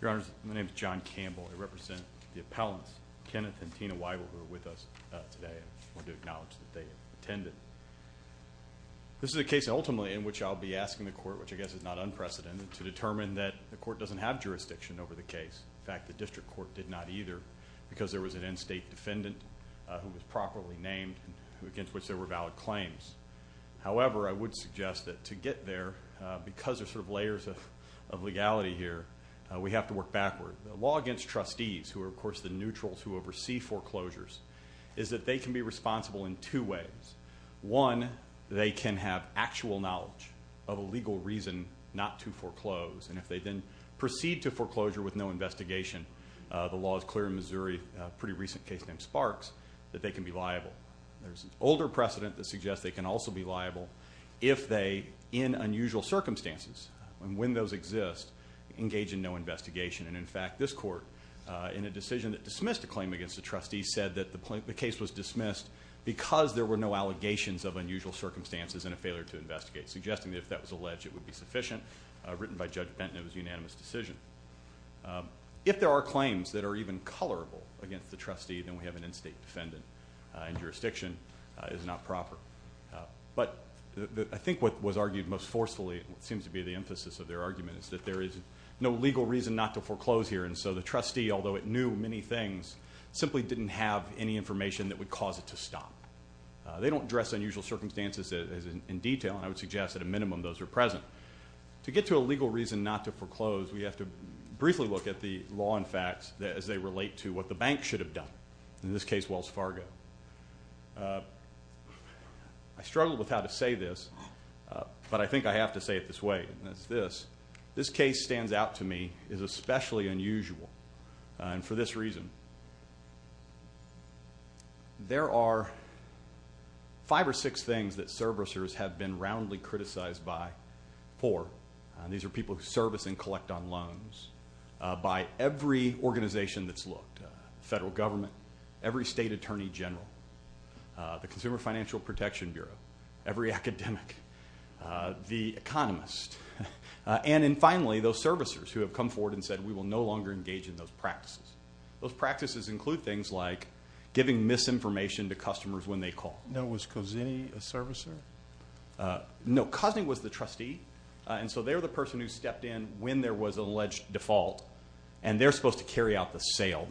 Your Honors, my name is John Campbell. I represent the appellants, Kenneth and Tina Wivell, who are with us today. I want to acknowledge that they attended. This is a case ultimately in which I'll be asking the court, which I guess is not unprecedented, to determine that the court doesn't have jurisdiction over the case. In fact, the district court did not either because there was an in-state defendant who was properly named against which there were valid claims. However, I think there's sort of layers of legality here. We have to work backward. The law against trustees, who are of course the neutrals who oversee foreclosures, is that they can be responsible in two ways. One, they can have actual knowledge of a legal reason not to foreclose, and if they then proceed to foreclosure with no investigation, the law is clear in Missouri, a pretty recent case named Sparks, that they can be liable. There's an older precedent that suggests they can also be liable if they, in unusual circumstances, when those exist, engage in no investigation. And in fact, this court, in a decision that dismissed a claim against the trustee, said that the case was dismissed because there were no allegations of unusual circumstances and a failure to investigate, suggesting that if that was alleged, it would be sufficient. Written by Judge Benton, it was a unanimous decision. If there are claims that are even colorable against the trustee, then we have an in-state defendant and proper. But I think what was argued most forcefully, and what seems to be the emphasis of their argument, is that there is no legal reason not to foreclose here, and so the trustee, although it knew many things, simply didn't have any information that would cause it to stop. They don't address unusual circumstances in detail, and I would suggest at a minimum those are present. To get to a legal reason not to foreclose, we have to briefly look at the law and facts as they relate to what the bank should have done. In this case, Wells Fargo. I struggled with how to say this, but I think I have to say it this way, and that's this. This case stands out to me as especially unusual, and for this reason. There are five or six things that servicers have been roundly criticized by, four. These are people who service and collect on loans. By every organization that's looked, federal government, every state attorney general, the Consumer Financial Protection Bureau, every academic, the economist, and in finally, those servicers who have come forward and said we will no longer engage in those practices. Those practices include things like giving misinformation to customers when they call. Now, was Cozzini a servicer? No, Cozzini was the trustee, and so they're the person who stepped in when there was no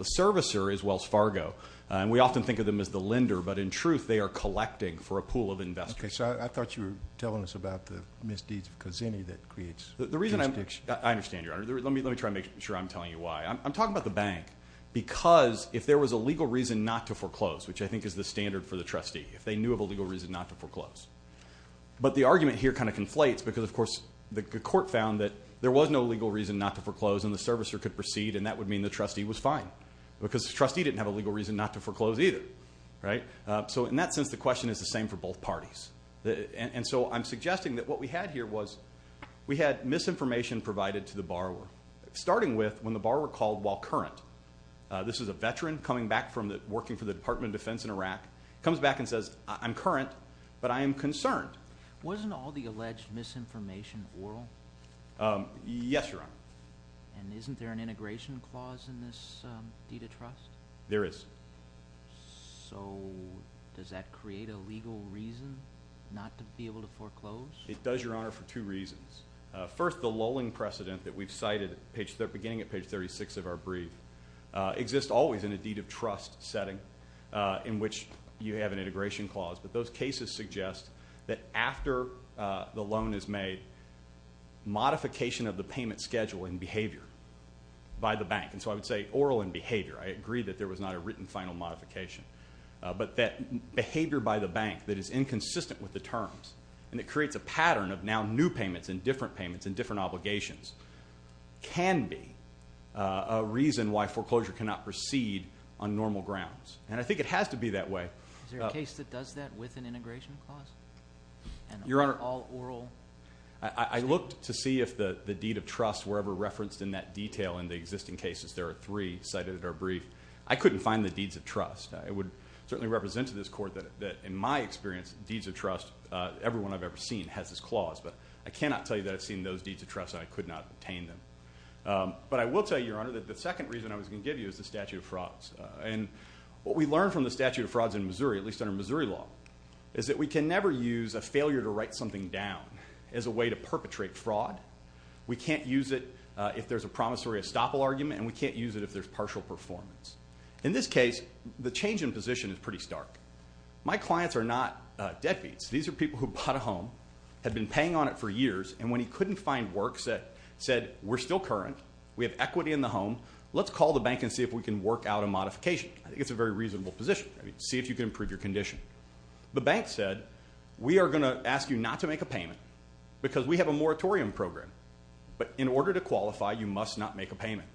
legal reason not to foreclose. The court found that there was no legal reason not to foreclose, and the servicer could proceed, and that would mean the trustee was fine, because the trustee didn't have a legal reason not to foreclose either, right? So in that sense, the question is the same for both parties, and so I'm suggesting that what we had here was we had misinformation provided to the borrower, starting with when the borrower called while current. This is a veteran coming back from working for the Department of Defense in Iraq, comes back and says, I'm current, but I am concerned. Wasn't all the alleged misinformation oral? Yes, Your Honor. And isn't there an integration clause in this deed of trust? There is. So does that create a legal reason not to be able to foreclose? It does, Your Honor, for two reasons. First, the lowling precedent that we've cited, beginning at page 36 of our brief, exists always in a deed of trust setting in which you have an integration clause, but those cases suggest that after the loan is made, modification of the payment schedule and so I would say oral and behavior. I agree that there was not a written final modification, but that behavior by the bank that is inconsistent with the terms and it creates a pattern of now new payments and different payments and different obligations can be a reason why foreclosure cannot proceed on normal grounds, and I think it has to be that way. Is there a case that does that with an integration clause? Your Honor, I looked to see if the the deed of trust were ever referenced in that detail in the existing cases. There are three cited at our brief. I couldn't find the deeds of trust. It would certainly represent to this court that in my experience, deeds of trust, everyone I've ever seen has this clause, but I cannot tell you that I've seen those deeds of trust and I could not obtain them. But I will tell you, Your Honor, that the second reason I was going to give you is the statute of frauds. And what we learned from the statute of frauds in Missouri, at least under Missouri law, is that we can never use a failure to write something down as a way to perpetrate fraud. We can't use it if there's a promissory estoppel argument, and we can't use it if there's partial performance. In this case, the change in position is pretty stark. My clients are not deadbeats. These are people who bought a home, had been paying on it for years, and when he couldn't find work, said we're still current, we have equity in the home, let's call the bank and see if we can work out a modification. I think it's a very reasonable position. See if you can improve your condition. The bank said, we are going to ask you not to make a payment, because we have a moratorium program. But in order to qualify, you must not make a payment.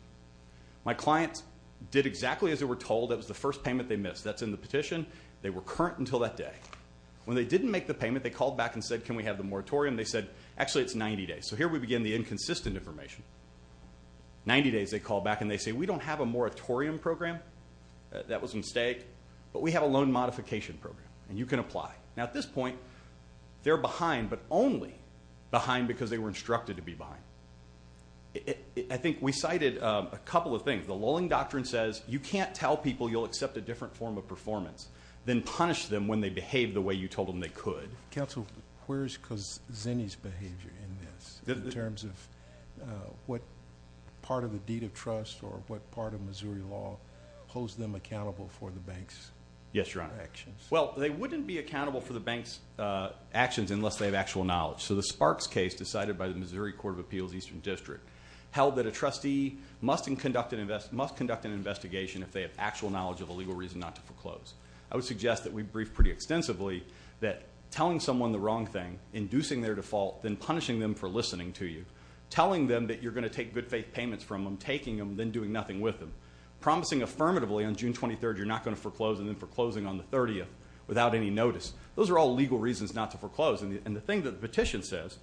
My clients did exactly as they were told. That was the first payment they missed. That's in the petition. They were current until that day. When they didn't make the payment, they called back and said, can we have the moratorium? They said, actually, it's 90 days. So here we begin the inconsistent information. 90 days, they called back and they say, we don't have a moratorium program. That was a mistake. But we have a loan modification program, and you can apply. Now, at this point, they're behind, but only behind because they were instructed to be behind. I think we cited a couple of things. The lolling doctrine says, you can't tell people you'll accept a different form of performance than punish them when they behave the way you told them they could. Counsel, where's Kazeni's behavior in this, in terms of what part of the deed of trust or what part of Missouri law holds them accountable for the bank's actions? Yes, Your Honor. Well, they wouldn't be accountable for the bank's actions unless they have actual knowledge. So the Sparks case, decided by the Missouri Court of Appeals, Eastern District, held that a trustee must conduct an investigation if they have actual knowledge of a legal reason not to foreclose. I would suggest that we brief pretty extensively that telling someone the wrong thing, inducing their default, then punishing them for listening to you. Telling them that you're going to take good faith payments from them, taking them, then doing nothing with them. Promising affirmatively on June 23rd, you're not going to foreclose, and then foreclosing on the 30th without any notice. Those are all legal reasons not to foreclose. And the thing that the petition says,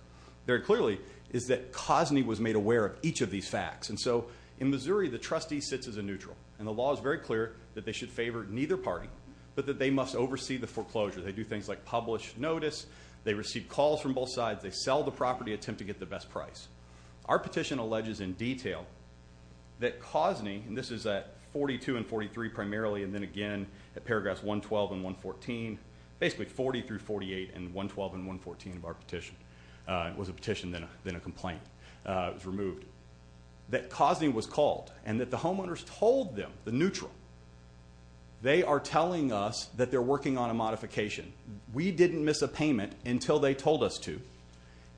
very clearly, is that Kazeni was made aware of each of these facts. And so, in Missouri, the trustee sits as a neutral, and the law is very clear that they should favor neither party, but that they must oversee the foreclosure. They do things like publish notice, they receive calls from both sides, they sell the property, attempt to get the best price. Our petition alleges in detail that Kazeni, and this is at 42 and 43 primarily, and then again, at paragraphs 112 and 114. Basically, 40 through 48, and 112 and 114 of our petition. It was a petition, then a complaint. It was removed. That Kazeni was called, and that the homeowners told them, the neutral, they are telling us that they're working on a modification. We didn't miss a payment until they told us to.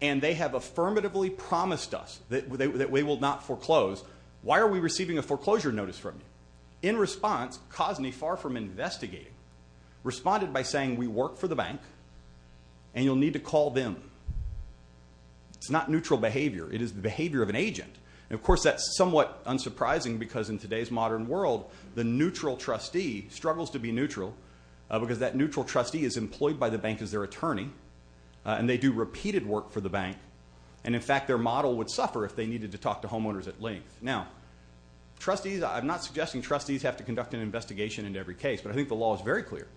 And they have affirmatively promised us that we will not foreclose. Why are we receiving a foreclosure notice from Kazeni? In response, Kazeni, far from investigating, responded by saying, we work for the bank, and you'll need to call them. It's not neutral behavior. It is the behavior of an agent. And of course, that's somewhat unsurprising, because in today's modern world, the neutral trustee struggles to be neutral, because that neutral trustee is employed by the bank as their attorney, and they do repeated work for the bank. And in fact, their model would suffer if they needed to talk to the bank. I'm not suggesting trustees have to conduct an investigation in every case, but I think the law is very clear,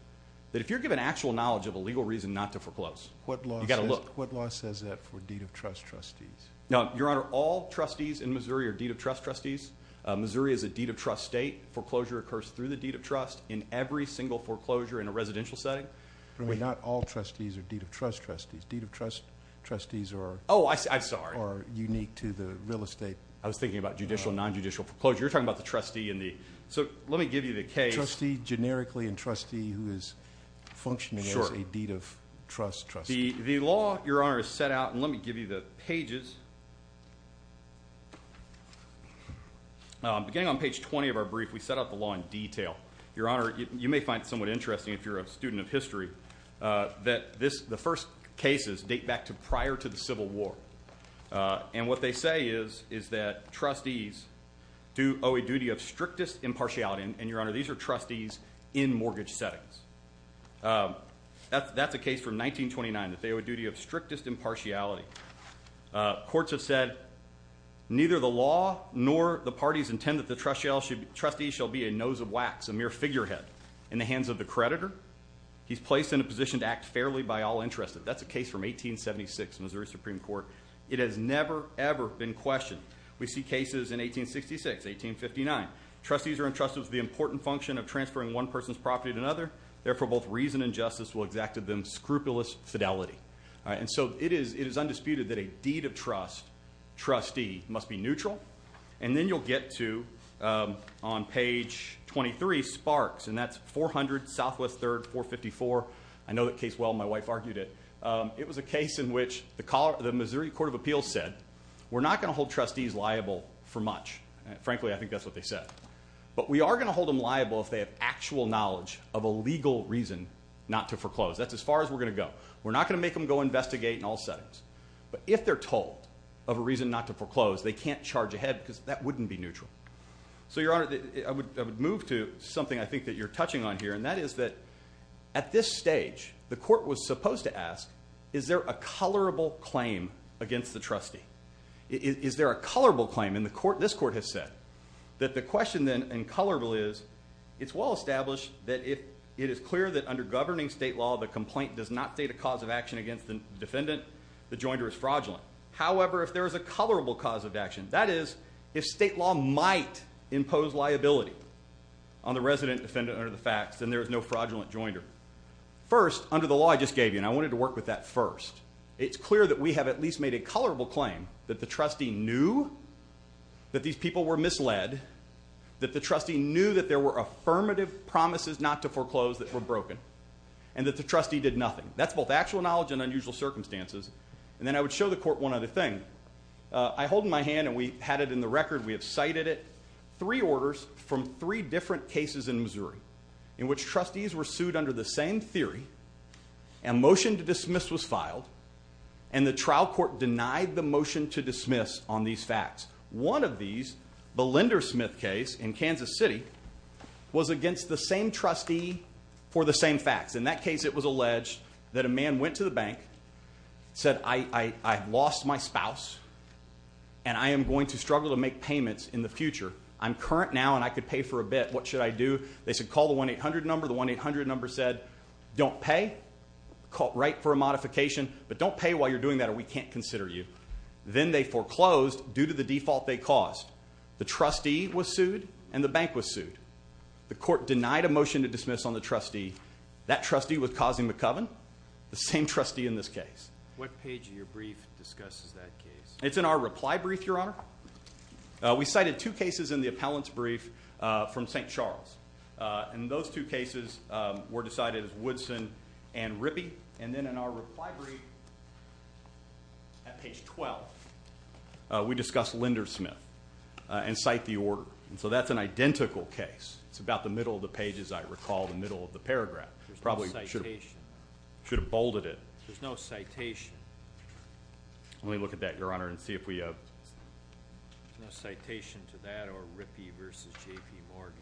that if you're given actual knowledge of a legal reason not to foreclose, you gotta look. What law says that for deed of trust trustees? Now, Your Honor, all trustees in Missouri are deed of trust trustees. Missouri is a deed of trust state. Foreclosure occurs through the deed of trust in every single foreclosure in a residential setting. But not all trustees are deed of trust trustees. Deed of trust trustees are... Oh, I'm sorry. ...are unique to the real estate... I was thinking about judicial, non judicial foreclosure. You're talking about the trustee and the... So let me give you the case. Trustee, generically, and trustee who is functioning as a deed of trust trustee. Sure. The law, Your Honor, is set out, and let me give you the pages. Beginning on page 20 of our brief, we set out the law in detail. Your Honor, you may find it somewhat interesting, if you're a student of history, that the first cases date back to prior to the Civil War. And what they say is, is that trustees owe a duty of strictest impartiality. And, Your Honor, these are trustees in mortgage settings. That's a case from 1929, that they owe a duty of strictest impartiality. Courts have said, neither the law nor the parties intend that the trustees shall be a nose of wax, a mere figurehead in the hands of the creditor. He's placed in a position to act fairly by all interest. That's a case from 1876, Missouri Supreme Court. It has never, ever been questioned. We see cases in 1866, 1859. Trustees are entrusted with the important function of transferring one person's property to another. Therefore, both reason and justice will exacted them scrupulous fidelity. And so it is undisputed that a deed of trust, trustee, must be neutral. And then you'll get to, on page 23, sparks. And that's 400 Southwest 3rd, 454. I know that case well, my wife argued it. It was a case in which the Missouri Court of Appeals said, we're not gonna hold trustees liable for much. Frankly, I think that's what they said. But we are gonna hold them liable if they have actual knowledge of a legal reason not to foreclose. That's as far as we're gonna go. We're not gonna make them go investigate in all settings. But if they're told of a reason not to foreclose, they can't charge ahead, because that wouldn't be neutral. So, Your Honor, I would move to something I think that you're touching on here, and that is that at this stage, the court was supposed to ask, is there a colorable claim against the trustee? Is there a colorable claim in the court? This court has said that the question, then, and colorable is, it's well established that if it is clear that under governing state law, the complaint does not state a cause of action against the defendant, the jointer is fraudulent. However, if there is a colorable cause of action, that is, if state law might impose liability on the resident defendant under the facts, then there is no fraudulent jointer. First, under the law I just gave you, and I wanted to work with that first, it's clear that we have at least made a colorable claim that the trustee knew that these people were misled, that the trustee knew that there were affirmative promises not to foreclose that were broken, and that the trustee did nothing. That's both actual knowledge and unusual circumstances. And then I would show the court one other thing. I hold in my hand, and we had it in the Missouri, in which trustees were sued under the same theory, and motion to dismiss was filed, and the trial court denied the motion to dismiss on these facts. One of these, the Lendersmith case in Kansas City, was against the same trustee for the same facts. In that case, it was alleged that a man went to the bank, said, I've lost my spouse, and I am going to struggle to make payments in the future. I'm current now, and I could pay for a modification. I do. They said, call the 1-800 number. The 1-800 number said, don't pay. Call right for a modification, but don't pay while you're doing that, or we can't consider you. Then they foreclosed due to the default they caused. The trustee was sued, and the bank was sued. The court denied a motion to dismiss on the trustee. That trustee was causing the coven, the same trustee in this case. What page of your brief discusses that case? It's in our reply brief, Your Honor. We cited two cases in the appellant's brief from St. Charles, and those two cases were decided as Woodson and Rippey. And then in our reply brief, at page 12, we discussed Lendersmith and cite the order. And so that's an identical case. It's about the middle of the pages, I recall, the middle of the paragraph. There's no citation. Should have bolded it. There's no citation. Let me look at that, Your Honor, and see if we have a citation to that or Rippey versus J.P. Morgan.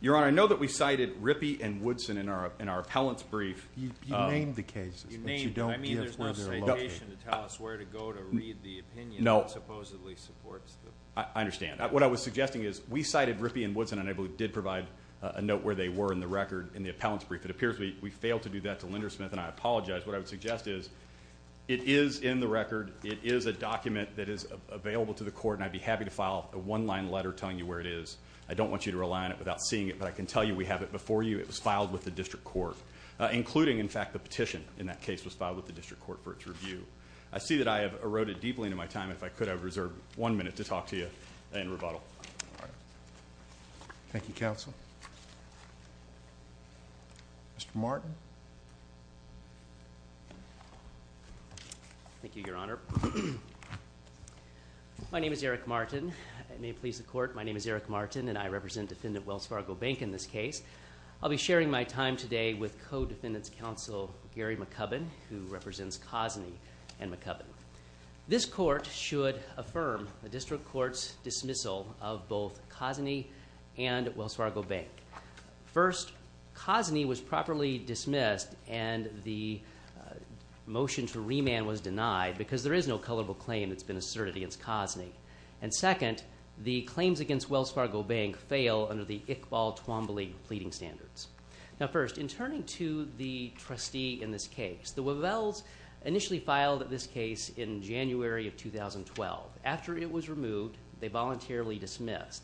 Your Honor, I know that we cited Rippey and Woodson in our appellant's brief. You named the cases, but you don't give where they're located. I mean, there's no citation to tell us where to go to read the opinion that supposedly supports them. I understand. What I was suggesting is, we cited Rippey and Woodson, and I believe did provide a note where they were in the record in the appellant's brief. It appears we failed to do that to Lendersmith, and I apologize. What I would suggest is, it is in the record. It is a document that is available to the court, and I'd be happy to file a one line letter telling you where it is. I don't want you to rely on it without seeing it, but I can tell you we have it before you. It was filed with the district court, including, in fact, the petition in that case was filed with the district court for its review. I see that I have eroded deeply into my time. If I could, I would reserve one minute to talk to you and rebuttal. Thank you, counsel. Mr. Martin? Thank you, your honor. My name is Eric Martin. I may please the court. My name is Eric Martin, and I represent defendant Wells Fargo Bank in this case. I'll be sharing my time today with co-defendant's counsel, Gary McCubbin, who represents Cosney and McCubbin. This court should affirm the district court's dismissal of both Cosney and Wells Fargo Bank. First, Cosney was properly dismissed, and the motion to remand was denied because there is no colorable claim that's been asserted against Cosney. And second, the claims against Wells Fargo Bank fail under the Iqbal Twombly pleading standards. Now, first, in turning to the trustee in this case, the Wavells initially filed this case in January of 2012. After it was removed, they voluntarily dismissed.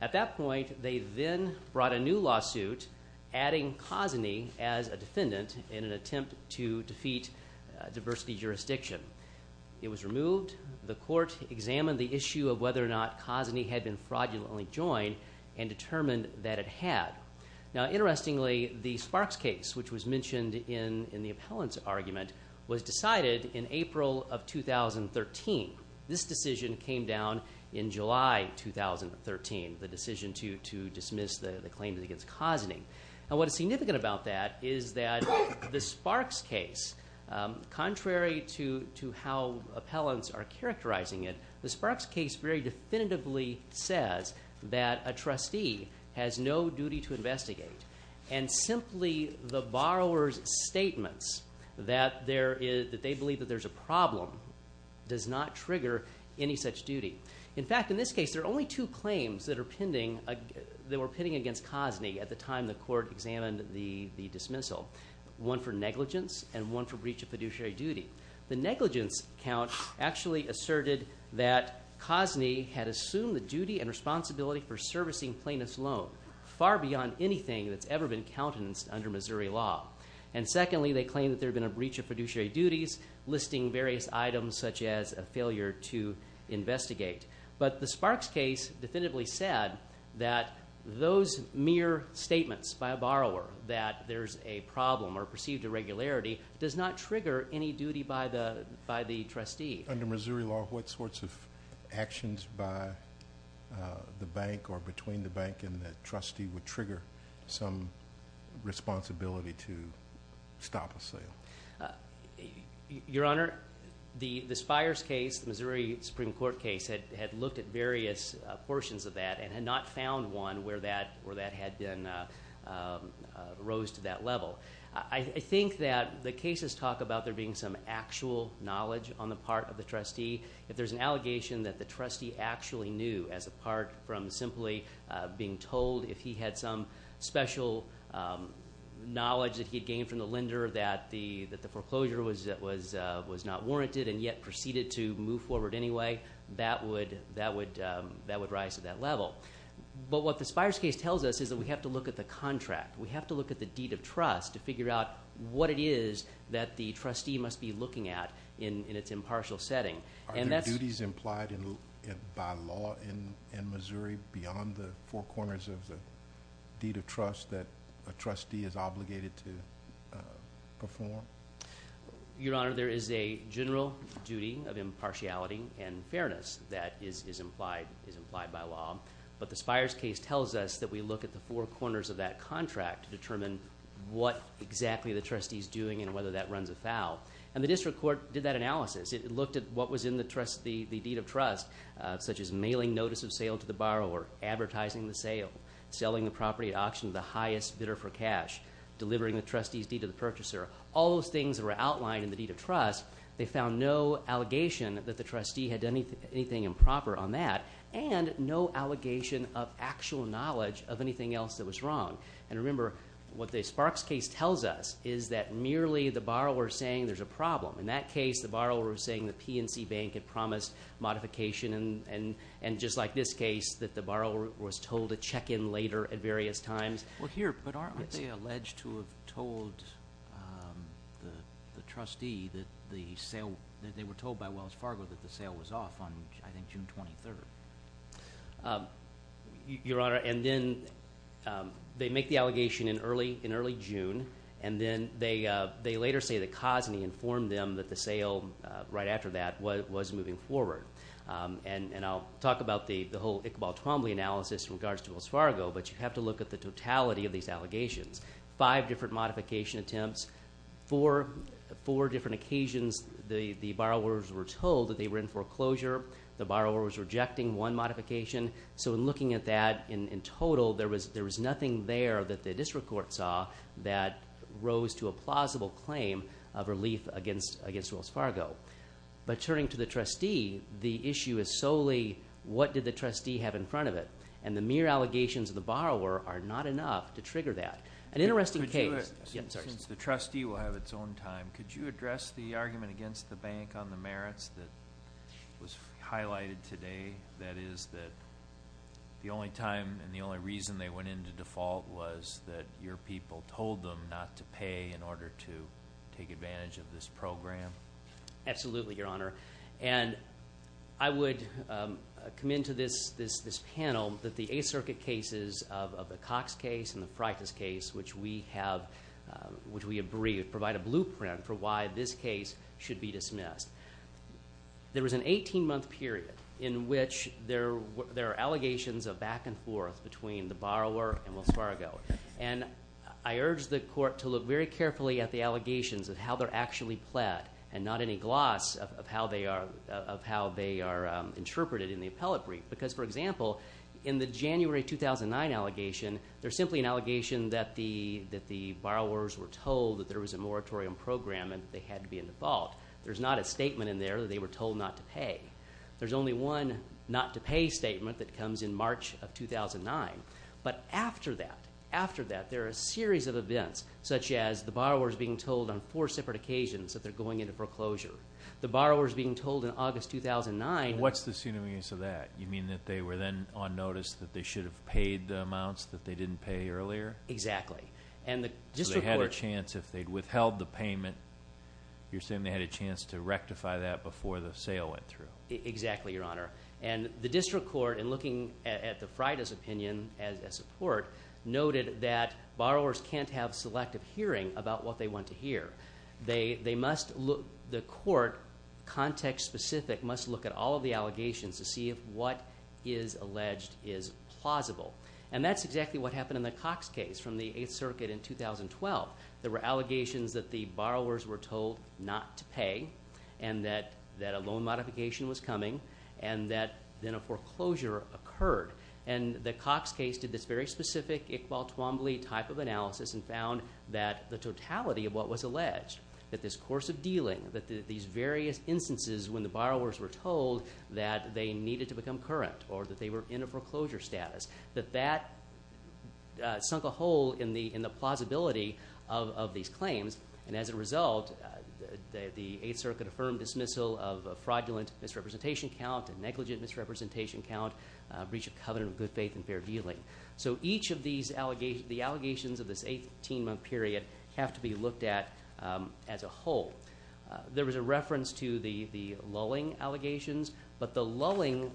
At that point, they then brought a new lawsuit adding Cosney as a reason to defeat diversity jurisdiction. It was removed. The court examined the issue of whether or not Cosney had been fraudulently joined and determined that it had. Now, interestingly, the Sparks case, which was mentioned in the appellant's argument, was decided in April of 2013. This decision came down in July 2013, the decision to dismiss the claims against Cosney. And what is significant about that is that the Sparks case, contrary to how appellants are characterizing it, the Sparks case very definitively says that a trustee has no duty to investigate, and simply the borrower's statements that they believe that there's a problem does not trigger any such duty. In fact, in this case, there are only two claims that the court examined the dismissal, one for negligence and one for breach of fiduciary duty. The negligence count actually asserted that Cosney had assumed the duty and responsibility for servicing plaintiff's loan far beyond anything that's ever been countenanced under Missouri law. And secondly, they claimed that there had been a breach of fiduciary duties listing various items such as a failure to investigate. But the Sparks case definitively said that those mere statements by a borrower that there's a problem or perceived irregularity does not trigger any duty by the trustee. Under Missouri law, what sorts of actions by the bank or between the bank and the trustee would trigger some responsibility to stop a sale? Your Honor, the Spires case, the Missouri Supreme Court case had looked at various portions of that and had not found one where that had been rose to that level. I think that the cases talk about there being some actual knowledge on the part of the trustee. If there's an allegation that the trustee actually knew as a part from simply being told if he had some special knowledge that he had gained from the lender that the foreclosure was not warranted and yet proceeded to move forward anyway, that would rise to that level. But what the Spires case tells us is that we have to look at the contract. We have to look at the deed of trust to figure out what it is that the trustee must be looking at in its impartial setting. Are there duties implied by law in Missouri beyond the four corners of the deed of trust that a trustee is obligated to and fairness that is implied by law? But the Spires case tells us that we look at the four corners of that contract to determine what exactly the trustee is doing and whether that runs afoul. And the district court did that analysis. It looked at what was in the deed of trust, such as mailing notice of sale to the borrower, advertising the sale, selling the property at auction to the highest bidder for cash, delivering the trustee's deed to the purchaser. All those things were outlined in the deed of trust. They found no allegation that the trustee had done anything improper on that and no allegation of actual knowledge of anything else that was wrong. And remember, what the Sparks case tells us is that merely the borrower is saying there's a problem. In that case, the borrower was saying the PNC Bank had promised modification and just like this case, that the borrower was told to check in later at various times. Well, here, but aren't they alleged to have told the trustee that they were told by Wells Fargo that the sale was off on, I think, June 23rd? Your Honor, and then they make the allegation in early June, and then they later say that Cosney informed them that the sale right after that was moving forward. And I'll talk about the whole Iqbal Twombly analysis in regards to Wells Fargo, but you have to look at the totality of these allegations. Five different modification attempts, four different occasions the borrowers were told that they were in foreclosure, the borrower was rejecting one modification. So in looking at that in total, there was nothing there that the district court saw that rose to a plausible claim of relief against Wells Fargo. But turning to the trustee, the issue is solely what did the trustee have in front of it? And the mere allegations of the borrower are not enough to trigger that. An interesting case... Since the trustee will have its own time, could you address the argument against the bank on the merits that was highlighted today? That is that the only time and the only reason they went into default was that your people told them not to pay in order to take advantage of this program? Absolutely, Your Honor. And I would come into this panel that the Eighth Circuit cases of the Cox case and the Freitas case, which we have... Which we have briefed, provide a blueprint for why this case should be dismissed. There was an 18 month period in which there are allegations of back and forth between the borrower and Wells Fargo. And I urge the court to look very carefully at the allegations of how they're actually pled and not any gloss of how they are interpreted in the appellate brief. Because, for example, in the January 2009 allegation, there's simply an allegation that the borrowers were told that there was a moratorium program and they had to be in default. There's not a statement in there that they were told not to pay. There's only one not to pay statement that comes in March of 2009. But after that, after that, there are a series of events such as the borrowers being told on foreclosure. The borrowers being told in August 2009... And what's the synonyms of that? You mean that they were then on notice that they should have paid the amounts that they didn't pay earlier? Exactly. And the district court... So they had a chance if they'd withheld the payment, you're saying they had a chance to rectify that before the sale went through? Exactly, Your Honor. And the district court, in looking at the Freitas opinion as a support, noted that borrowers can't have selective hearing about what they want to hear. They must look... The court, context specific, must look at all of the allegations to see if what is alleged is plausible. And that's exactly what happened in the Cox case from the 8th Circuit in 2012. There were allegations that the borrowers were told not to pay and that a loan modification was coming and that then a foreclosure occurred. And the Cox case did this very specific Iqbal Twombly type of analysis and found that the totality of what was alleged, that this course of dealing, that these various instances when the borrowers were told that they needed to become current or that they were in a foreclosure status, that that sunk a hole in the plausibility of these claims. And as a result, the 8th Circuit affirmed dismissal of a fraudulent misrepresentation count, a negligent misrepresentation count, breach of covenant of good faith and a period have to be looked at as a whole. There was a reference to the lulling allegations, but the lulling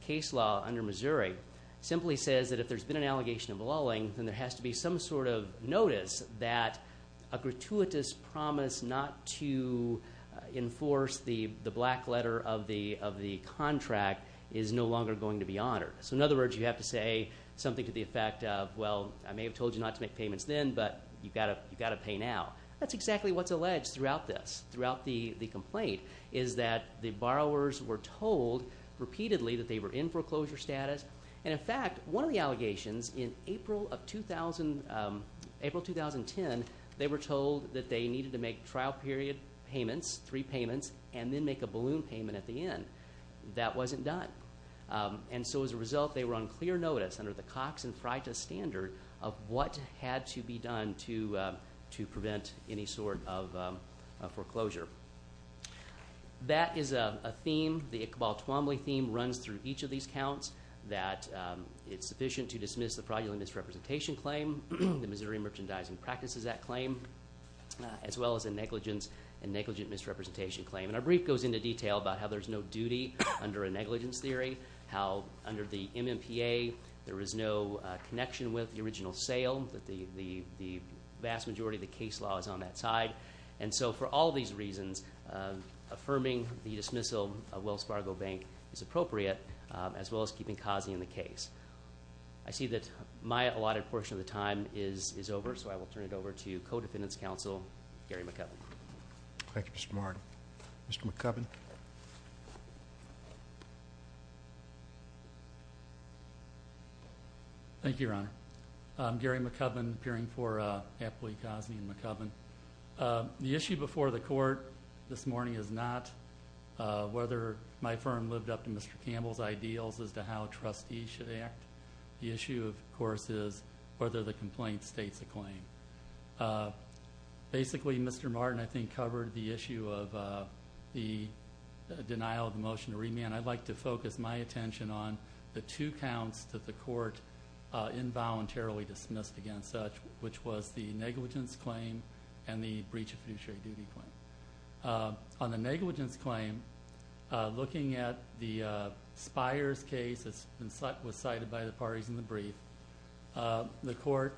case law under Missouri simply says that if there's been an allegation of lulling, then there has to be some sort of notice that a gratuitous promise not to enforce the black letter of the contract is no longer going to be honored. So in other words, you have to say something to the borrower. You've got to pay now. That's exactly what's alleged throughout this, throughout the complaint, is that the borrowers were told repeatedly that they were in foreclosure status. And in fact, one of the allegations in April 2010, they were told that they needed to make trial period payments, three payments, and then make a balloon payment at the end. That wasn't done. And so as a result, they were on clear notice under the Cox and Freitas standard of what had to be done to prevent any sort of foreclosure. That is a theme, the Iqbal Tuomly theme runs through each of these counts, that it's sufficient to dismiss the fraudulent misrepresentation claim, the Missouri Merchandising Practices Act claim, as well as a negligence and negligent misrepresentation claim. And our brief goes into detail about how there's no duty under a negligence theory, how under the MMPA, there is no connection with the original sale, that the vast majority of the case law is on that side. And so for all these reasons, affirming the dismissal of Wells Fargo Bank is appropriate, as well as keeping Cozzie in the case. I see that my allotted portion of the time is over, so I will turn it over to Co-Defendant's Counsel, Gary McCubbin. Thank you, Mr. Martin. Mr. McCubbin. Thank you, Your Honor. I'm Gary McCubbin, peering for Apley, Cozzie, and McCubbin. The issue before the court this morning is not whether my firm lived up to Mr. Campbell's ideals as to how a trustee should act. The issue, of course, is whether the complaint states a claim. Basically, Mr. Martin, I think, covered the issue of the denial of the motion to remand. I'd like to focus my attention on the two counts that the court involuntarily dismissed against such, which was the negligence claim and the breach of fiduciary duty claim. On the negligence claim, looking at the Spires case that was cited by the parties in the brief, the court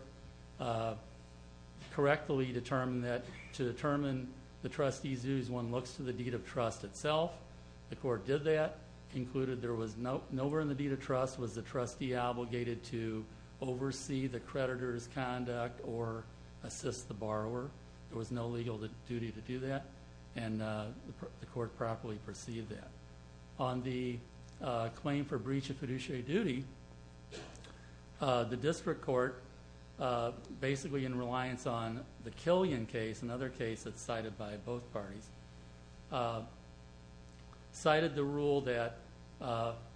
correctly determined that to determine the trustee's views, one looks to the deed of trust itself. The court did that, concluded there was nowhere in the deed of trust was the trustee obligated to oversee the creditor's conduct or assist the borrower. There was no legal duty to do that, and the court properly perceived that. On the claim for breach of fiduciary duty, the district court, basically in reliance on the Killian case, another case that's cited by both parties, cited the rule that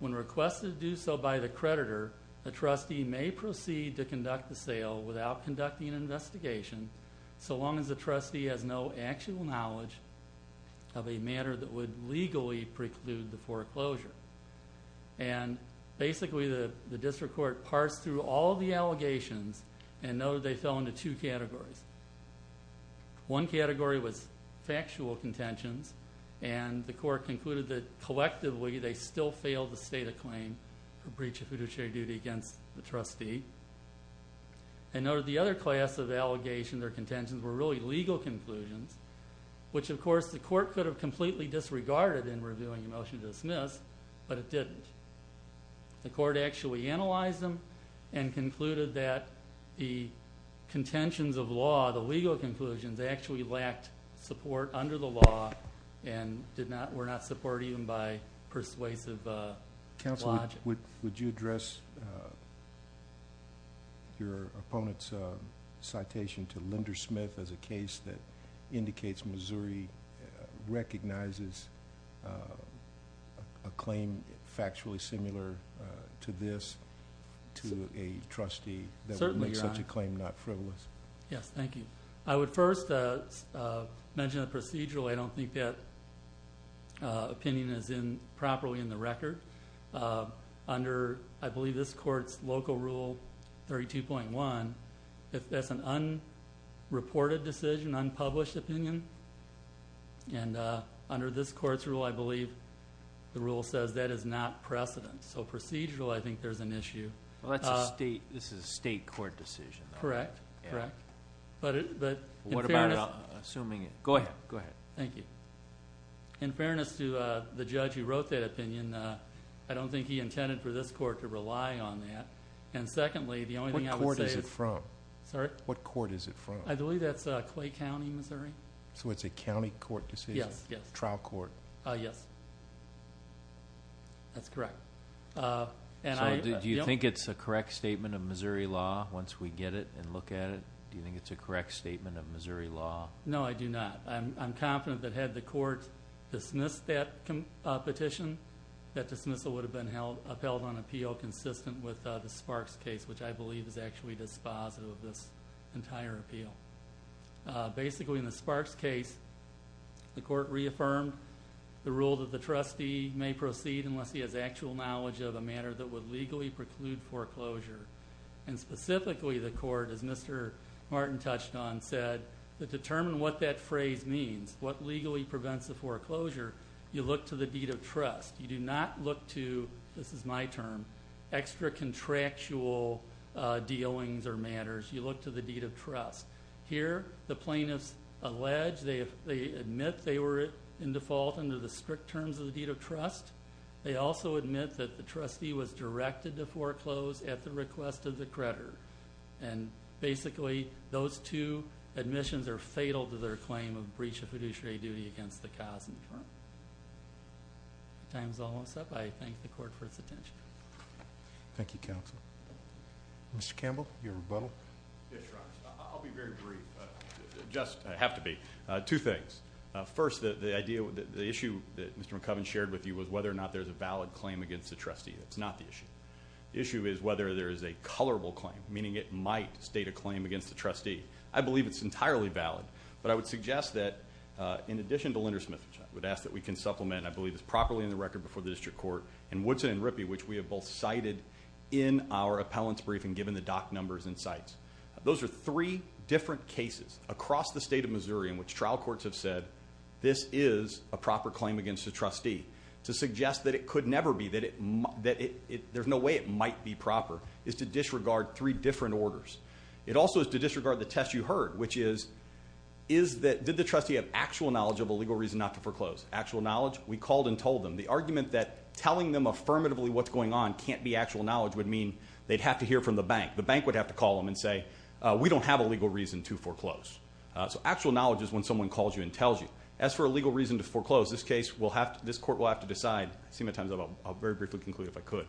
when requested to do so by the creditor, the trustee may proceed to conduct the sale without conducting an investigation so long as the trustee has no actual knowledge of a matter that would legally preclude the foreclosure. Basically, the district court parsed through all of the allegations and noted they fell into two categories. One category was factual contentions, and the court concluded that collectively, they still failed the state of claim for breach of fiduciary duty against the trustee. And noted the other class of allegations or contentions were really legal conclusions, which of course, the court could have completely disregarded in reviewing a motion to dismiss, but it didn't. The court actually analyzed them and concluded that the contentions of law, the legal conclusions, actually lacked support under the law and were not supported even by persuasive logic. Counsel, would you address your opponent's citation to Linder Smith as a case that indicates Missouri recognizes a claim factually similar to this to a trustee that would make such a claim not frivolous? Yes, thank you. I would first mention the procedural. I don't think that opinion is properly in the record. Under, I believe, this court's local rule 32.1, if that's an unreported decision, unpublished opinion, and under this court's rule, I believe the rule says that is not precedent. So procedural, I think there's an issue. Well, that's a state, this is a state court decision. Correct, correct. But in fairness... What about assuming... Go ahead, go ahead. Thank you. In fairness to the judge who wrote that opinion, I don't think he intended for this court to rely on that. And secondly, the only thing I would say... What court is it from? Sorry? What court is it from? I believe that's Clay County, Missouri. So it's a county court decision? Yes, yes. Trial court? Yes. That's correct. And I... So do you think it's a correct statement of Missouri law once we get it and look at it? Do you think it's a correct statement of Missouri law? No, I do not. I'm confident that had the court dismissed that petition, that dismissal would have been upheld on appeal consistent with the Sparks case, which I believe is actually dispositive of this entire appeal. Basically, in the Sparks case, the court reaffirmed the rule that the trustee may proceed unless he has actual knowledge of a matter that would legally preclude foreclosure. And specifically, the court, as Mr. Martin touched on, said that to determine what that phrase means, what legally prevents the foreclosure, you look to the deed of trust. You do not look to, this is my term, extra contractual dealings or matters. You look to the deed of trust. Here, the plaintiffs allege, they admit they were in default under the strict terms of the deed of trust. They also admit that the trustee was directed to foreclose at the request of the creditor. And basically, those two admissions are fatal to their claim of breach of fiduciary duty against the cause and the firm. Time's almost up. I thank the court for its attention. Thank you, counsel. Mr. Campbell, your rebuttal. Yes, Your Honor. I'll be very brief. Just have to be. Two things. First, the idea, the issue that Mr. McCubbin shared with you was whether or not there's a valid claim against the trustee. That's not the issue. The issue is whether there is a colorable claim, meaning it might state a claim against the trustee. I believe it's entirely valid, but I would suggest that in addition to Linder-Smith, which I would ask that we can supplement, and I believe it's properly in the record before the district court, and Woodson and Rippey, which we have both cited in our appellant's briefing given the dock numbers and sites. Those are three different cases across the state of Missouri in which trial courts have said, this is a proper claim against the trustee. To suggest that it could never be, that there's no way it might be proper, is to disregard three different orders. It also is to disregard the test you heard, which is, did the trustee have actual knowledge of a legal reason not to foreclose? Actual knowledge? We called and told them. The argument that telling them affirmatively what's going on can't be actual knowledge would mean they'd have to hear from the bank. The bank would have to call them and say, we don't have a legal reason to foreclose. So actual knowledge is when someone calls you and tells you. As for a legal reason to foreclose, this case, this court will have to decide. I've seen my time's up. I'll very briefly conclude if I could.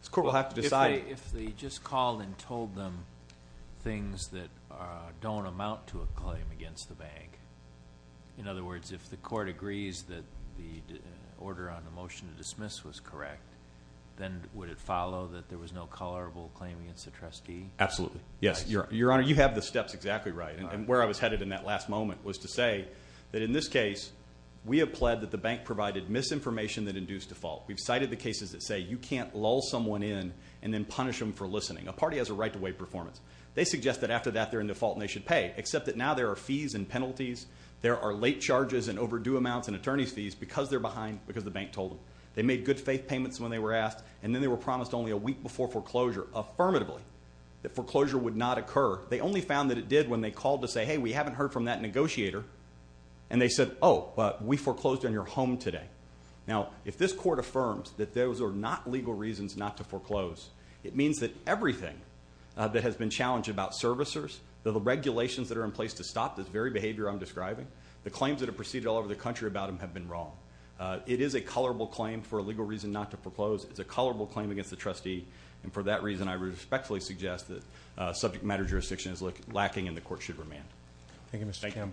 This court will have to decide... If they just called and told them things that don't amount to a claim against the bank. In other words, if the court agrees that the order on the motion to dismiss was correct, then would it follow that there was no tolerable claim against the trustee? Absolutely. Yes, Your Honor, you have the steps exactly right. And where I was headed in that last moment was to say that in this case, we have pled that the bank provided misinformation that induced default. We've cited the cases that say you can't lull someone in and then punish them for listening. A party has a right to wait performance. They suggest that after that they're in default and they should pay, except that now there are fees and penalties. There are late charges and overdue amounts and attorney's fees because they're behind, because the bank told them. They made good faith payments when they were asked, and then they were promised only a week before foreclosure, affirmatively, that foreclosure would not occur. They only found that it did when they called to say, hey, we haven't heard from that negotiator. And they said, oh, but we foreclosed on your home today. Now, if this court affirms that those are not legal reasons not to foreclose, it means that everything that has been challenged about servicers, the regulations that are in place to stop this very behavior I'm describing, the claims that have proceeded all over the country about them have been wrong. It is a colorable claim for a legal reason not to foreclose. It's a colorable claim against the trustee, and for that reason, I respectfully suggest that subject matter jurisdiction is lacking and the court should remand. Thank you, Mr. Campbell.